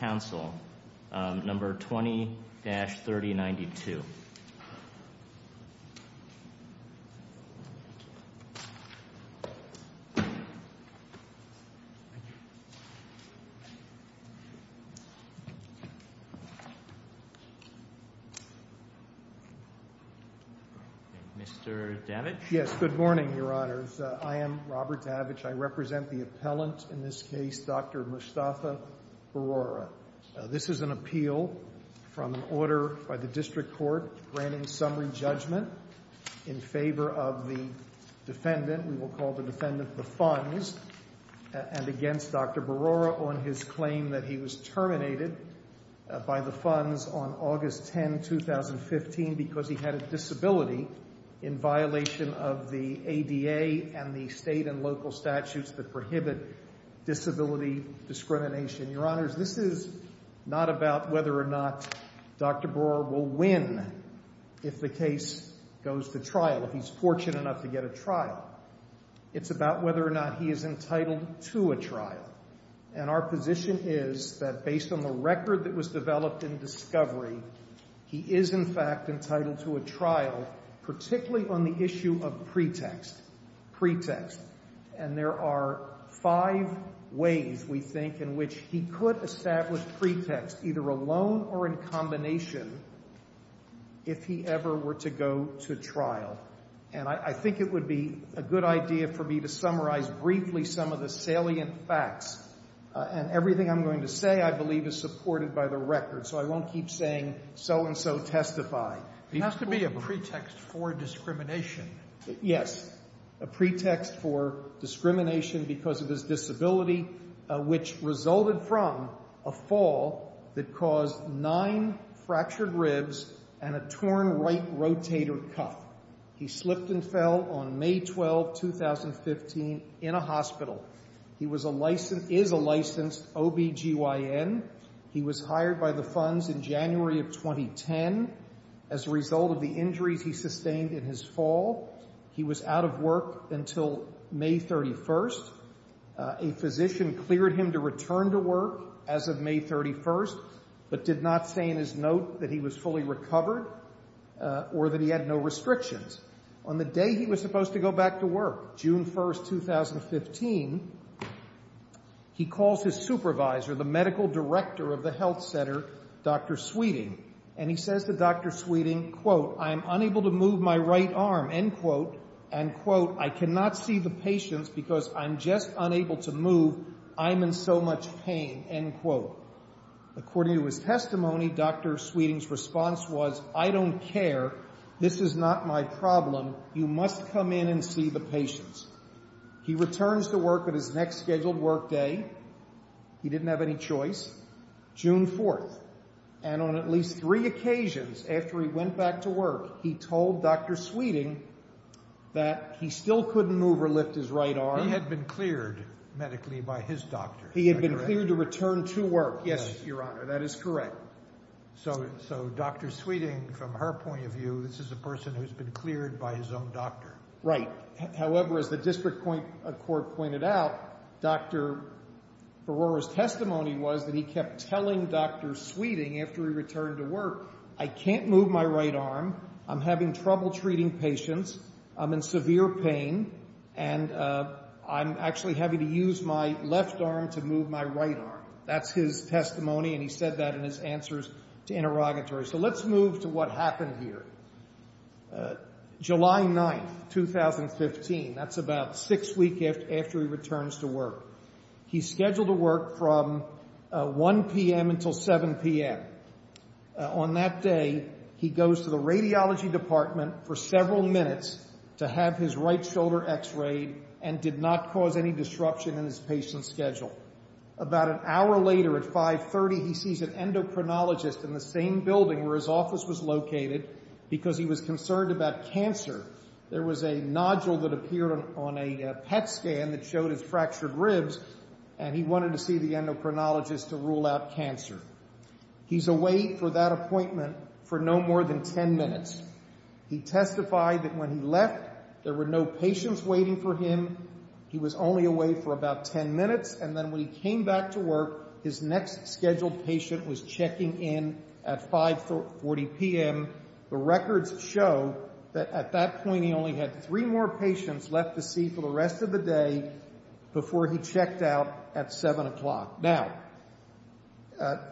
Council, No. 20-3092. Mr. Davich? Yes, good morning, Your Honors. I am Robert Davich. I represent the appellant in this case, Dr. Mustafa Barora. This is an appeal from order by the District Court granting summary judgment in favor of the defendant. We will call the defendant the funds and against Dr. Barora on his claim that he was terminated by the funds on August 10, 2015 because he had a disability in violation of the ADA and the local statutes that prohibit disability discrimination. Your Honors, this is not about whether or not Dr. Barora will win if the case goes to trial, if he's fortunate enough to get a trial. It's about whether or not he is entitled to a trial. And our position is that based on the record that was developed in discovery, he is in fact entitled to a trial, particularly on the issue of pretext, pretext. And there are five ways, we think, in which he could establish pretext, either alone or in combination, if he ever were to go to trial. And I think it would be a good idea for me to summarize briefly some of the salient facts. And everything I'm going to say, I believe, is supported by the record. So I won't keep saying so-and-so will testify. It has to be a pretext for discrimination. Yes. A pretext for discrimination because of his disability, which resulted from a fall that caused nine fractured ribs and a torn right rotator cuff. He slipped and fell on May 12, 2015 in a hospital. He was a licensed, is a licensed OBGYN. He was hired by the funds in January of 2010 as a result of the injuries he sustained in his fall. He was out of work until May 31. A physician cleared him to return to work as of May 31, but did not say in his note that he was fully recovered or that he had no restrictions. On the day he was supposed to go back to work, June 1, 2015, he calls his supervisor, the medical director of the health center, Dr. Sweeting. And he says to Dr. Sweeting, quote, I'm unable to move my right arm, end quote, end quote, I cannot see the patients because I'm just unable to move. I'm in so much pain, end quote. According to his testimony, Dr. Sweeting's response was, I don't care. This is not my problem. You must come in and see the patients. He returns to work on his next scheduled work day. He didn't have any choice. June 4th, and on at least three occasions after he went back to work, he told Dr. Sweeting that he still couldn't move or lift his right arm. He had been cleared medically by his doctor. He had been cleared to return to work. Yes, Your Honor, that is correct. So, so Dr. Sweeting from her point of view, this is a person who's been cleared by his own doctor. Right. However, as the district court pointed out, Dr. Barora's testimony was that he kept telling Dr. Sweeting after he returned to work, I can't move my right arm. I'm having trouble treating patients. I'm in severe pain. And I'm actually having to use my left arm to move my right arm. That's his testimony. And he said that in his answers to interrogatories. So let's move to what That's about six weeks after he returns to work. He's scheduled to work from 1 p.m. until 7 p.m. On that day, he goes to the radiology department for several minutes to have his right shoulder x-rayed and did not cause any disruption in his patient's schedule. About an hour later at 5.30, he sees an endocrinologist in the same building where his office was located because he was concerned about cancer. There was a nodule that appeared on a PET scan that showed his fractured ribs, and he wanted to see the endocrinologist to rule out cancer. He's away for that appointment for no more than 10 minutes. He testified that when he left, there were no patients waiting for him. He was only away for about 10 minutes. And then when he came back to work, his next scheduled patient was checking in at 5.40 p.m. The records show that at that point, he only had three more patients left to see for the rest of the day before he checked out at 7 o'clock. Now,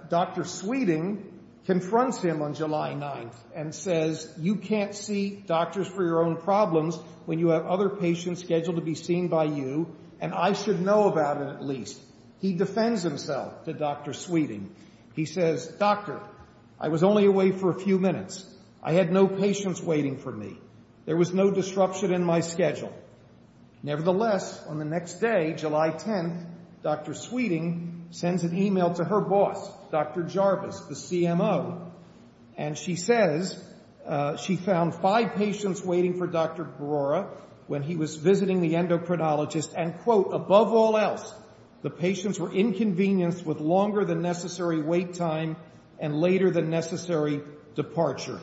Dr. Sweeting confronts him on July 9th and says, you can't see doctors for your own problems when you have other patients scheduled to be seen by you, and I should know about it at least. He defends himself to Dr. Sweeting. He says, doctor, I was only away for a few minutes. I had no patients waiting for me. There was no disruption in my schedule. Nevertheless, on the next day, July 10th, Dr. Sweeting sends an email to her boss, Dr. Jarvis, the CMO, and she says she found five patients waiting for Dr. Barora when he was visiting the hospital. Above all else, the patients were inconvenienced with longer than necessary wait time and later than necessary departure,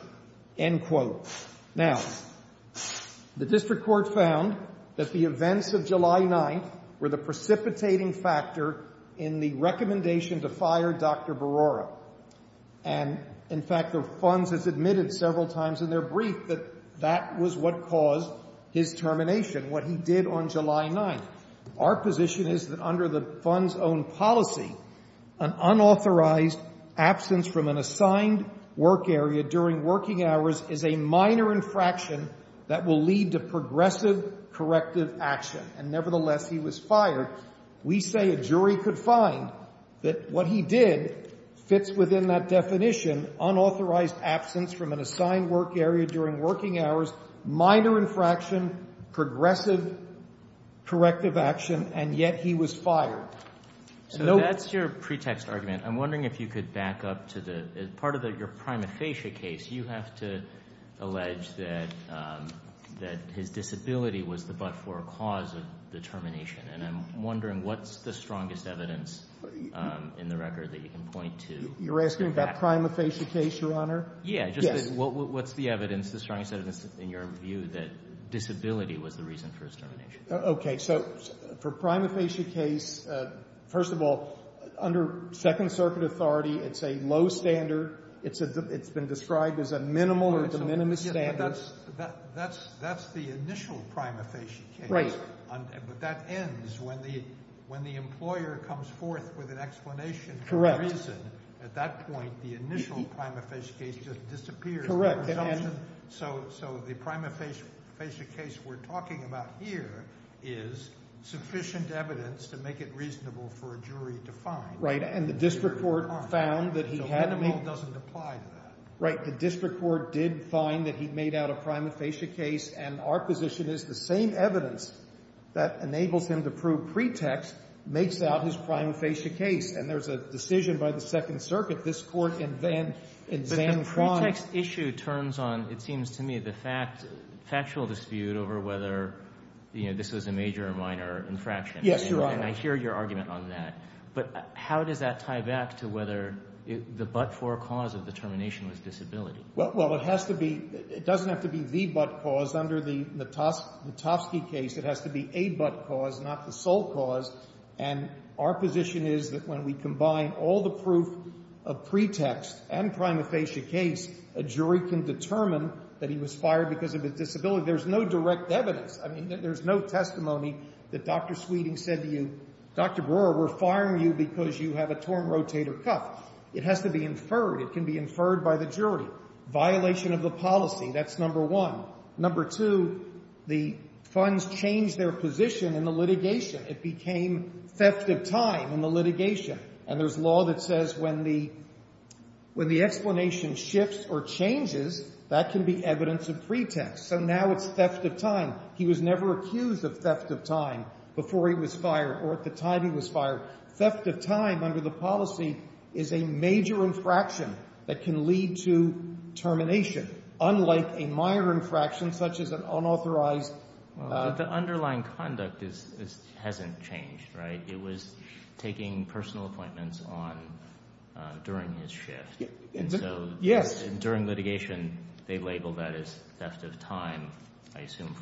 end quote. Now, the District Court found that the events of July 9th were the precipitating factor in the recommendation to fire Dr. Barora. And in fact, the funds has admitted several times in their brief that that was what caused his termination, what he did on July 9th. Our position is that under the fund's own policy, an unauthorized absence from an assigned work area during working hours is a minor infraction that will lead to progressive corrective action. And nevertheless, he was fired. We say a jury could find that what he did fits within that definition, unauthorized absence from an assigned work area during working hours, minor infraction, progressive corrective action, and yet he was fired. So that's your pretext argument. I'm wondering if you could back up to the part of your prima facie case. You have to allege that his disability was the but-for cause of the termination. And I'm wondering what's the strongest evidence in the record that you can point to? You're asking about prima facie case, Your Honor? Yes. What's the evidence, the strongest evidence in your view that disability was the reason for his termination? Okay. So for prima facie case, first of all, under Second Circuit authority, it's a low standard. It's been described as a minimal or de minimis standard. That's the initial prima facie case. Right. But that ends when the employer comes forth with an explanation for the reason. At that point, the initial prima facie case just disappears. Correct. So the prima facie case we're talking about here is sufficient evidence to make it reasonable for a jury to find. Right. And the district court found that he had made... So minimal doesn't apply to that. Right. The district court did find that he made out a prima facie case. And our position is the same evidence that enables him to prove pretext makes out his prima facie case. And there's a decision by the Second Circuit, this Court, in Van... But the pretext issue turns on, it seems to me, the fact, factual dispute over whether, you know, this was a major or minor infraction. Yes, Your Honor. And I hear your argument on that. But how does that tie back to whether the but-for cause of the termination was disability? Well, it has to be... It doesn't have to be the but-cause. Under the Natofsky case, it has to be a but-cause, not the sole cause. And our position is that when we combine all the proof of pretext and prima facie case, a jury can determine that he was fired because of his disability. There's no direct evidence. I mean, there's no testimony that Dr. Sweeting said to you, Dr. Brewer, we're firing you because you have a torn rotator cuff. It has to be inferred. It can be inferred by the jury. Violation of the policy, that's number one. Number two, the funds changed their position in the litigation. It became theft of time in the litigation. And there's law that says when the explanation shifts or changes, that can be evidence of pretext. So now it's theft of time. He was never accused of theft of time before he was fired or at the time he was fired. Theft of time under the policy is a major infraction that can lead to termination, unlike a minor infraction such as an unauthorized... It was taking personal appointments during his shift. And so during litigation, they label that as theft of time, I assume,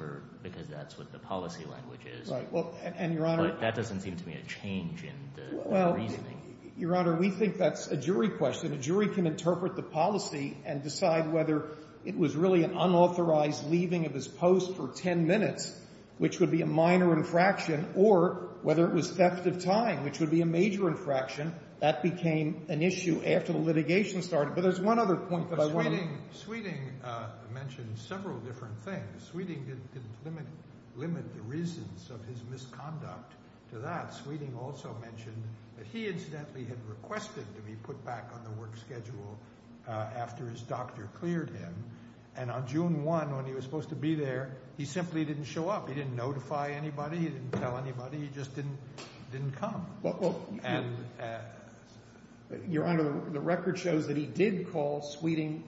because that's what the policy language is. But that doesn't seem to be a change in the reasoning. Your Honor, we think that's a jury question. A jury can interpret the policy and decide whether it was really an unauthorized leaving of his post for 10 minutes, which would be a minor infraction, or whether it was theft of time, which would be a major infraction. That became an issue after the litigation started. But there's one other point, by the way. Sweeting mentioned several different things. Sweeting didn't limit the reasons of his misconduct to that. Sweeting also mentioned that he incidentally had requested to be put back on the work schedule after his doctor cleared him. And on June 1, when he was supposed to be there, he simply didn't show up. He didn't notify anybody. He didn't tell anybody. He just didn't come. Your Honor, the record shows that he did call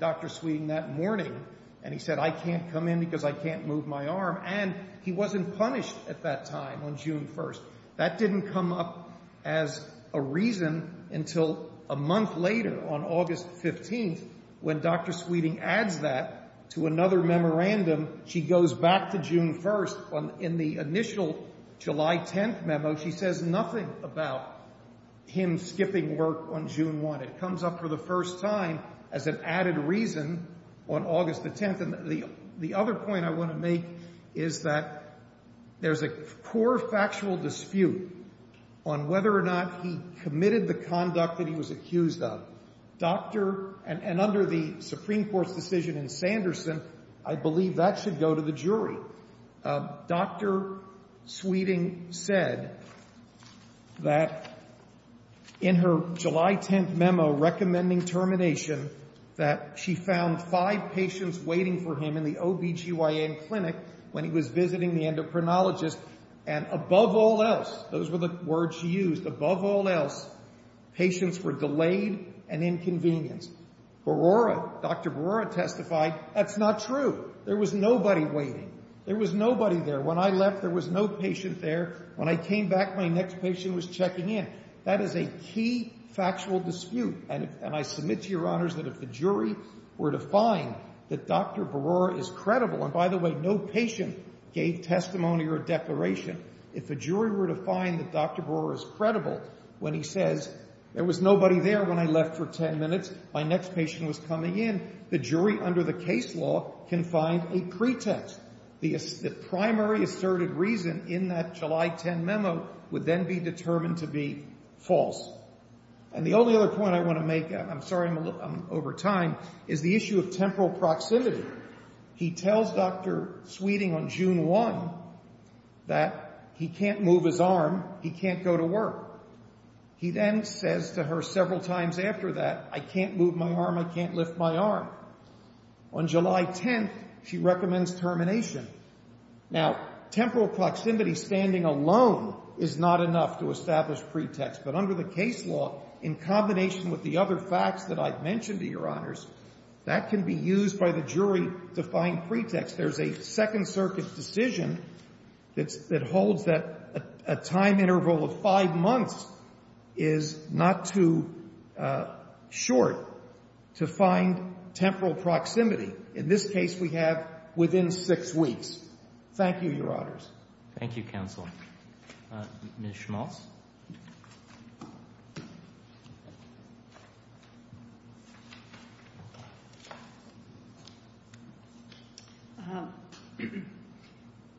Dr. Sweeting that morning, and he said, I can't come in because I can't move my arm. And he wasn't punished at that time on June 1. That didn't come up as a reason until a month later, on August 15, when Dr. Sweeting adds that to another memorandum. She goes back to June 1. In the initial July 10 memo, she says nothing about him skipping work on June 1. It comes up for the first time as an added reason on August 10. And the other point I want to make is that there's a core factual dispute on whether or not he committed the conduct that he was accused of. Doctor — and under the Supreme Court's decision in Sanderson, I believe that should go to the jury. Doctor Sweeting said that in her July 10 memo recommending termination that she found five patients waiting for him in the OB-GYN clinic when he was visiting the endocrinologist. And above all else — those were the words she used — above all else, patients were delayed and inconvenienced. Barora — Dr. Barora testified, that's not true. There was nobody waiting. There was nobody there. When I left, there was no patient there. When I came back, my next patient was checking in. That is a key factual dispute. And I submit to Your Honors that if the jury were to find that Dr. Barora is credible — and by the way, no patient gave testimony or a declaration. If a jury were to find that Dr. Barora is credible when he says, there was nobody there when I left for 10 minutes, my next patient was coming in, the jury under the case law can find a pretext. The primary asserted reason in that July 10 memo would then be determined to be false. And the only other point I want to make — I'm sorry I'm over time — is the issue of temporal proximity. He tells Dr. Sweeting on June 1 that he can't move his arm, he can't go to work. He then says to her several times after that, I can't move my arm, I can't lift my arm. On July 10, she recommends termination. Now, temporal proximity, standing alone, is not enough to establish pretext. But under the case law, in combination with the other facts that I've mentioned to Your Honors, that can be used by the jury to find pretext. There's a Second Circuit decision that holds that a time interval of five months is not too short to find temporal proximity. In this case, we have within six weeks. Thank you, Your Honors. Thank you, Counsel. Ms. Schmalz.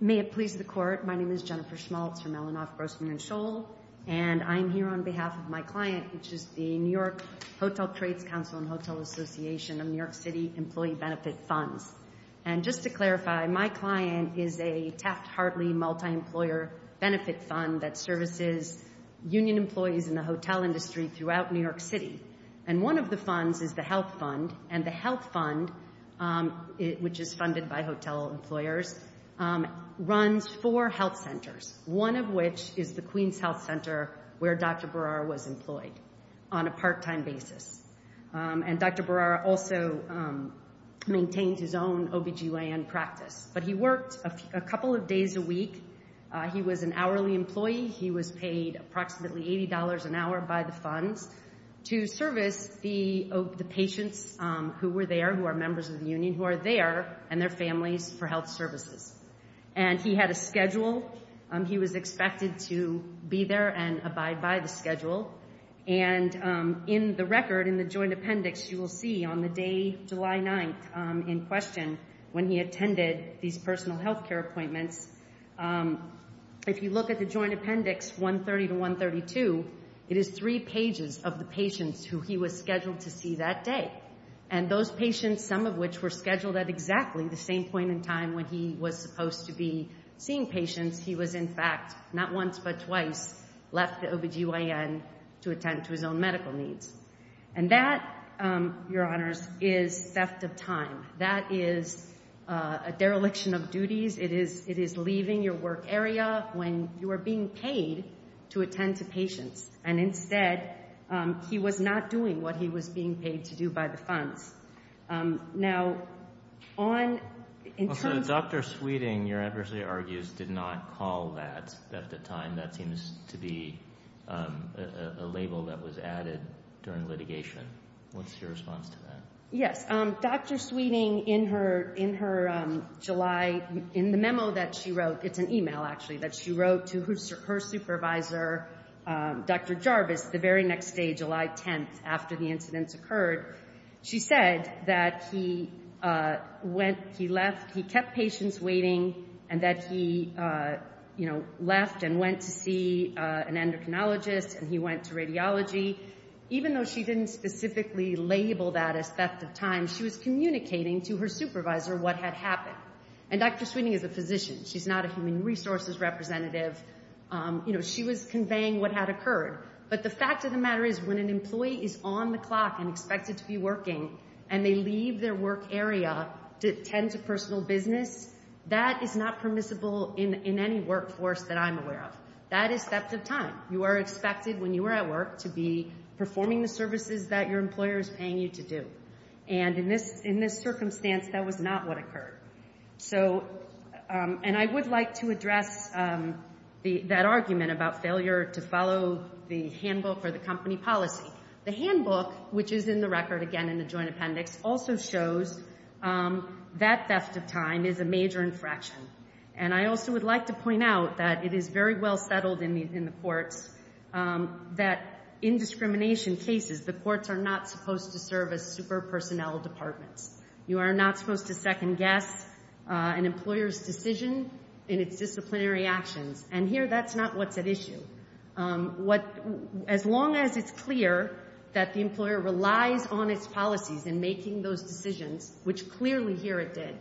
May it please the Court. My name is Jennifer Schmalz from Elinoff, Grossman & Scholl, and I'm here on behalf of my client, which is the New York Hotel Trades Council and Hotel Association of New York City Employee Benefit Funds. And just to clarify, my client is a Taft-Hartley multi-employer benefit fund that services union employees in the hotel industry throughout New York City. And one of the funds is the health fund. And the health fund, which is funded by hotel employers, runs four health centers, one of which is the Queens Health Center where Dr. Berrara was employed on a part-time basis. And Dr. Berrara also maintains his own OB-GYN practice. But he worked a couple of days a week. He was an hourly employee. He was paid approximately $80 an hour by the funds to service the patients who were there, who are members of the union who are there, and their families for health services. And he had a schedule. He was expected to be there and abide by the schedule. And in the record, in the joint appendix, you will see on the day July 9th in question, when he attended these personal health care appointments, if you look at the joint appendix 130 to 132, it is three pages of the patients who he was scheduled to see that day. And those patients, some of which were scheduled at exactly the same point in time when he was supposed to be seeing patients, he was in fact not once but twice left the OB-GYN to attend to his own medical needs. And that, Your Honors, is theft of time. That is a dereliction of duties. It is leaving your work area when you are being paid to attend to patients. And instead, he was not doing what he was being paid to do by the funds. Now, on in terms of- So Dr. Sweeting, your adversary argues, did not call that theft of time. That seems to be a label that was added during litigation. What's your response to that? Yes. Dr. Sweeting, in her July, in the memo that she wrote, it's an e-mail, actually, that she wrote to her supervisor, Dr. Jarvis, the very next day, July 10th, after the incidents occurred, she said that he went, he left, he kept patients waiting, and that he, you know, left and went to see an endocrinologist and he went to radiology. Even though she didn't specifically label that as theft of time, she was communicating to her supervisor what had happened. And Dr. Sweeting is a physician. She's not a human resources representative. You know, she was conveying what had occurred. But the fact of the matter is when an employee is on the clock and expected to be working and they leave their work area to attend to personal business, that is not permissible in any workforce that I'm aware of. That is theft of time. You are expected, when you are at work, to be performing the services that your employer is paying you to do. And in this circumstance, that was not what occurred. So, and I would like to address that argument about failure to follow the handbook or the company policy. The handbook, which is in the record, again, in the joint appendix, also shows that theft of time is a major infraction. And I also would like to point out that it is very well settled in the courts that in discrimination cases, the courts are not supposed to serve as super personnel departments. You are not supposed to second guess an employer's decision in its disciplinary actions. And here, that's not what's at issue. As long as it's clear that the employer relies on its policies in making those decisions, which clearly here it did.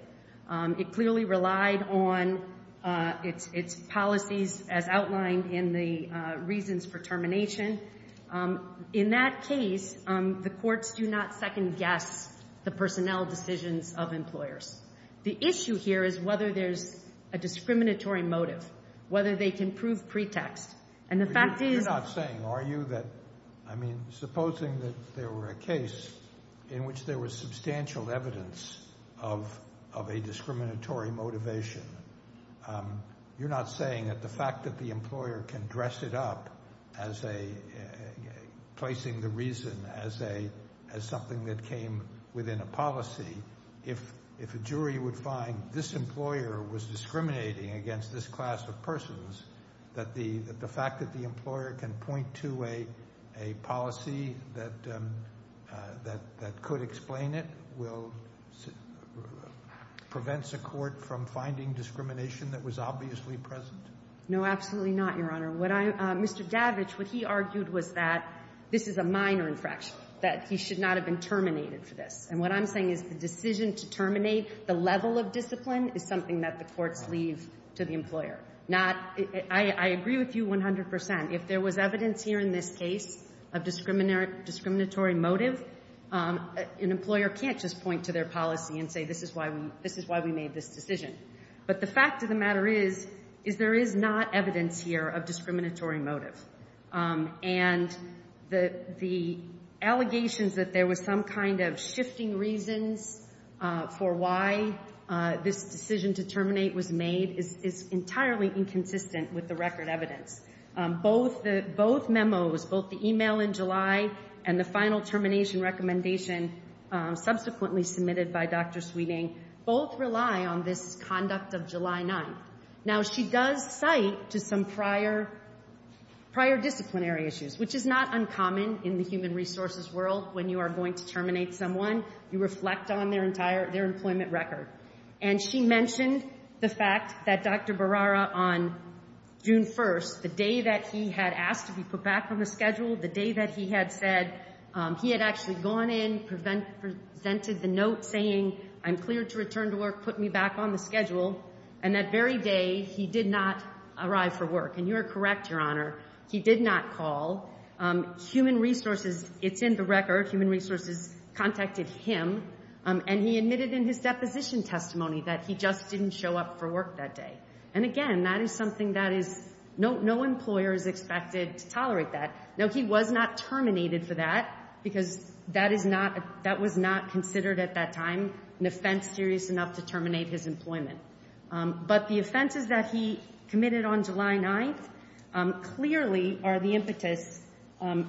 It clearly relied on its policies as outlined in the reasons for termination. In that case, the courts do not second guess the personnel decisions of employers. The issue here is whether there's a discriminatory motive, whether they can prove pretext. And the fact is— You're not saying, are you, that, I mean, supposing that there were a case in which there was substantial evidence of a discriminatory motivation, you're not saying that the fact that the employer can dress it up as a—placing the reason as something that came within a policy, if a jury would find this employer was discriminating against this class of persons, that the fact that the employer can point to a policy that could explain it will—prevents a court from finding discrimination that was obviously present? No, absolutely not, Your Honor. Mr. Davich, what he argued was that this is a minor infraction, that he should not have been terminated for this. And what I'm saying is the decision to terminate the level of discipline is something that the courts leave to the employer. Not—I agree with you 100%. If there was evidence here in this case of discriminatory motive, an employer can't just point to their policy and say, this is why we made this decision. But the fact of the matter is, is there is not evidence here of discriminatory motive. And the allegations that there was some kind of shifting reasons for why this decision to terminate was made is entirely inconsistent with the record evidence. Both the—both memos, both the email in July and the final termination recommendation subsequently submitted by Dr. Sweeting, both rely on this conduct of July 9th. Now, she does cite to some prior—prior disciplinary issues, which is not uncommon in the human resources world. When you are going to terminate someone, you reflect on their entire—their employment record. And she mentioned the fact that Dr. Barrara, on June 1st, the day that he had asked to be put back on the schedule, the day that he had said—he had actually gone in, presented the note saying, I'm cleared to return to work, put me back on the schedule. And that very day, he did not arrive for work. And you are correct, Your Honor, he did not call. Human resources—it's in the record. Human resources contacted him. And he admitted in his deposition testimony that he just didn't show up for work that day. And, again, that is something that is—no employer is expected to tolerate that. Now, he was not terminated for that because that is not—that was not considered at that time an offense serious enough to terminate his employment. But the offenses that he committed on July 9th clearly are the impetus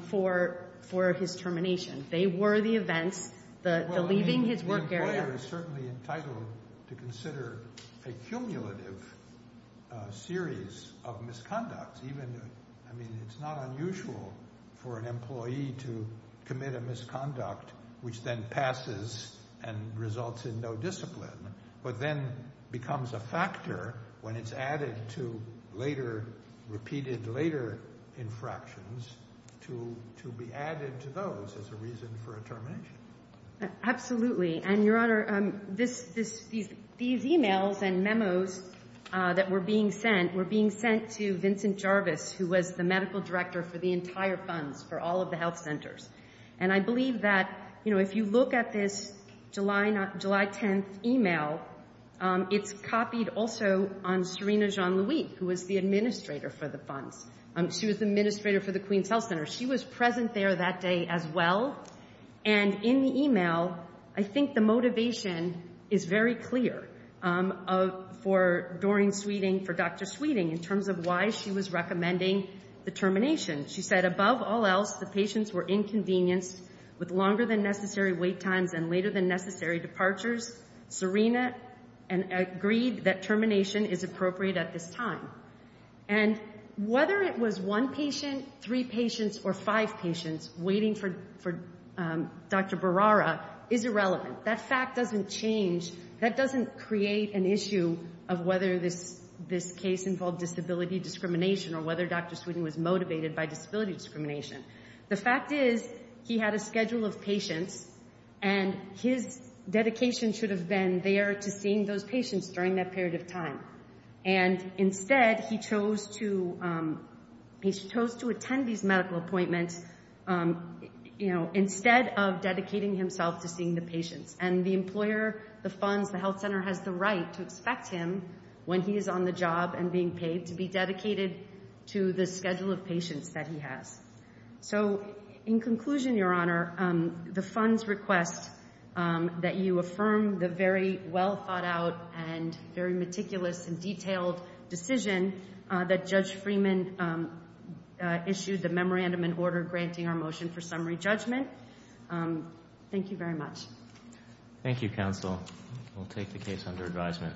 for his termination. They were the events, the leaving his work area. The employer is certainly entitled to consider a cumulative series of misconducts, even—I mean, it's not unusual for an employee to commit a misconduct, which then passes and results in no discipline, but then becomes a factor when it's added to later—repeated later infractions to be added to those as a reason for a termination. Absolutely. And, Your Honor, this—these emails and memos that were being sent were being sent to Vincent Jarvis, who was the medical director for the entire funds for all of the health centers. And I believe that, you know, if you look at this July 10th email, it's copied also on Serena Jean-Louis, who was the administrator for the funds. She was the administrator for the Queens Health Center. She was present there that day as well. And in the email, I think the motivation is very clear for Doreen Sweeting, for Dr. Sweeting, in terms of why she was recommending the termination. She said, above all else, the patients were inconvenienced with longer-than-necessary wait times and later-than-necessary departures. Serena agreed that termination is appropriate at this time. And whether it was one patient, three patients, or five patients waiting for—for Dr. Berrara is irrelevant. That fact doesn't change—that doesn't create an issue of whether this—this case involved disability discrimination or whether Dr. Sweeting was motivated by disability discrimination. The fact is, he had a schedule of patients, and his dedication should have been there to seeing those patients during that period of time. And instead, he chose to—he chose to attend these medical appointments, you know, instead of dedicating himself to seeing the patients. And the employer, the funds, the health center has the right to expect him, when he is on the job and being paid, to be dedicated to the schedule of patients that he has. So, in conclusion, Your Honor, the funds request that you affirm the very well-thought-out and very meticulous and detailed decision that Judge Freeman issued the memorandum and order granting our motion for summary judgment. Thank you very much. Thank you, counsel. We'll take the case under advisement.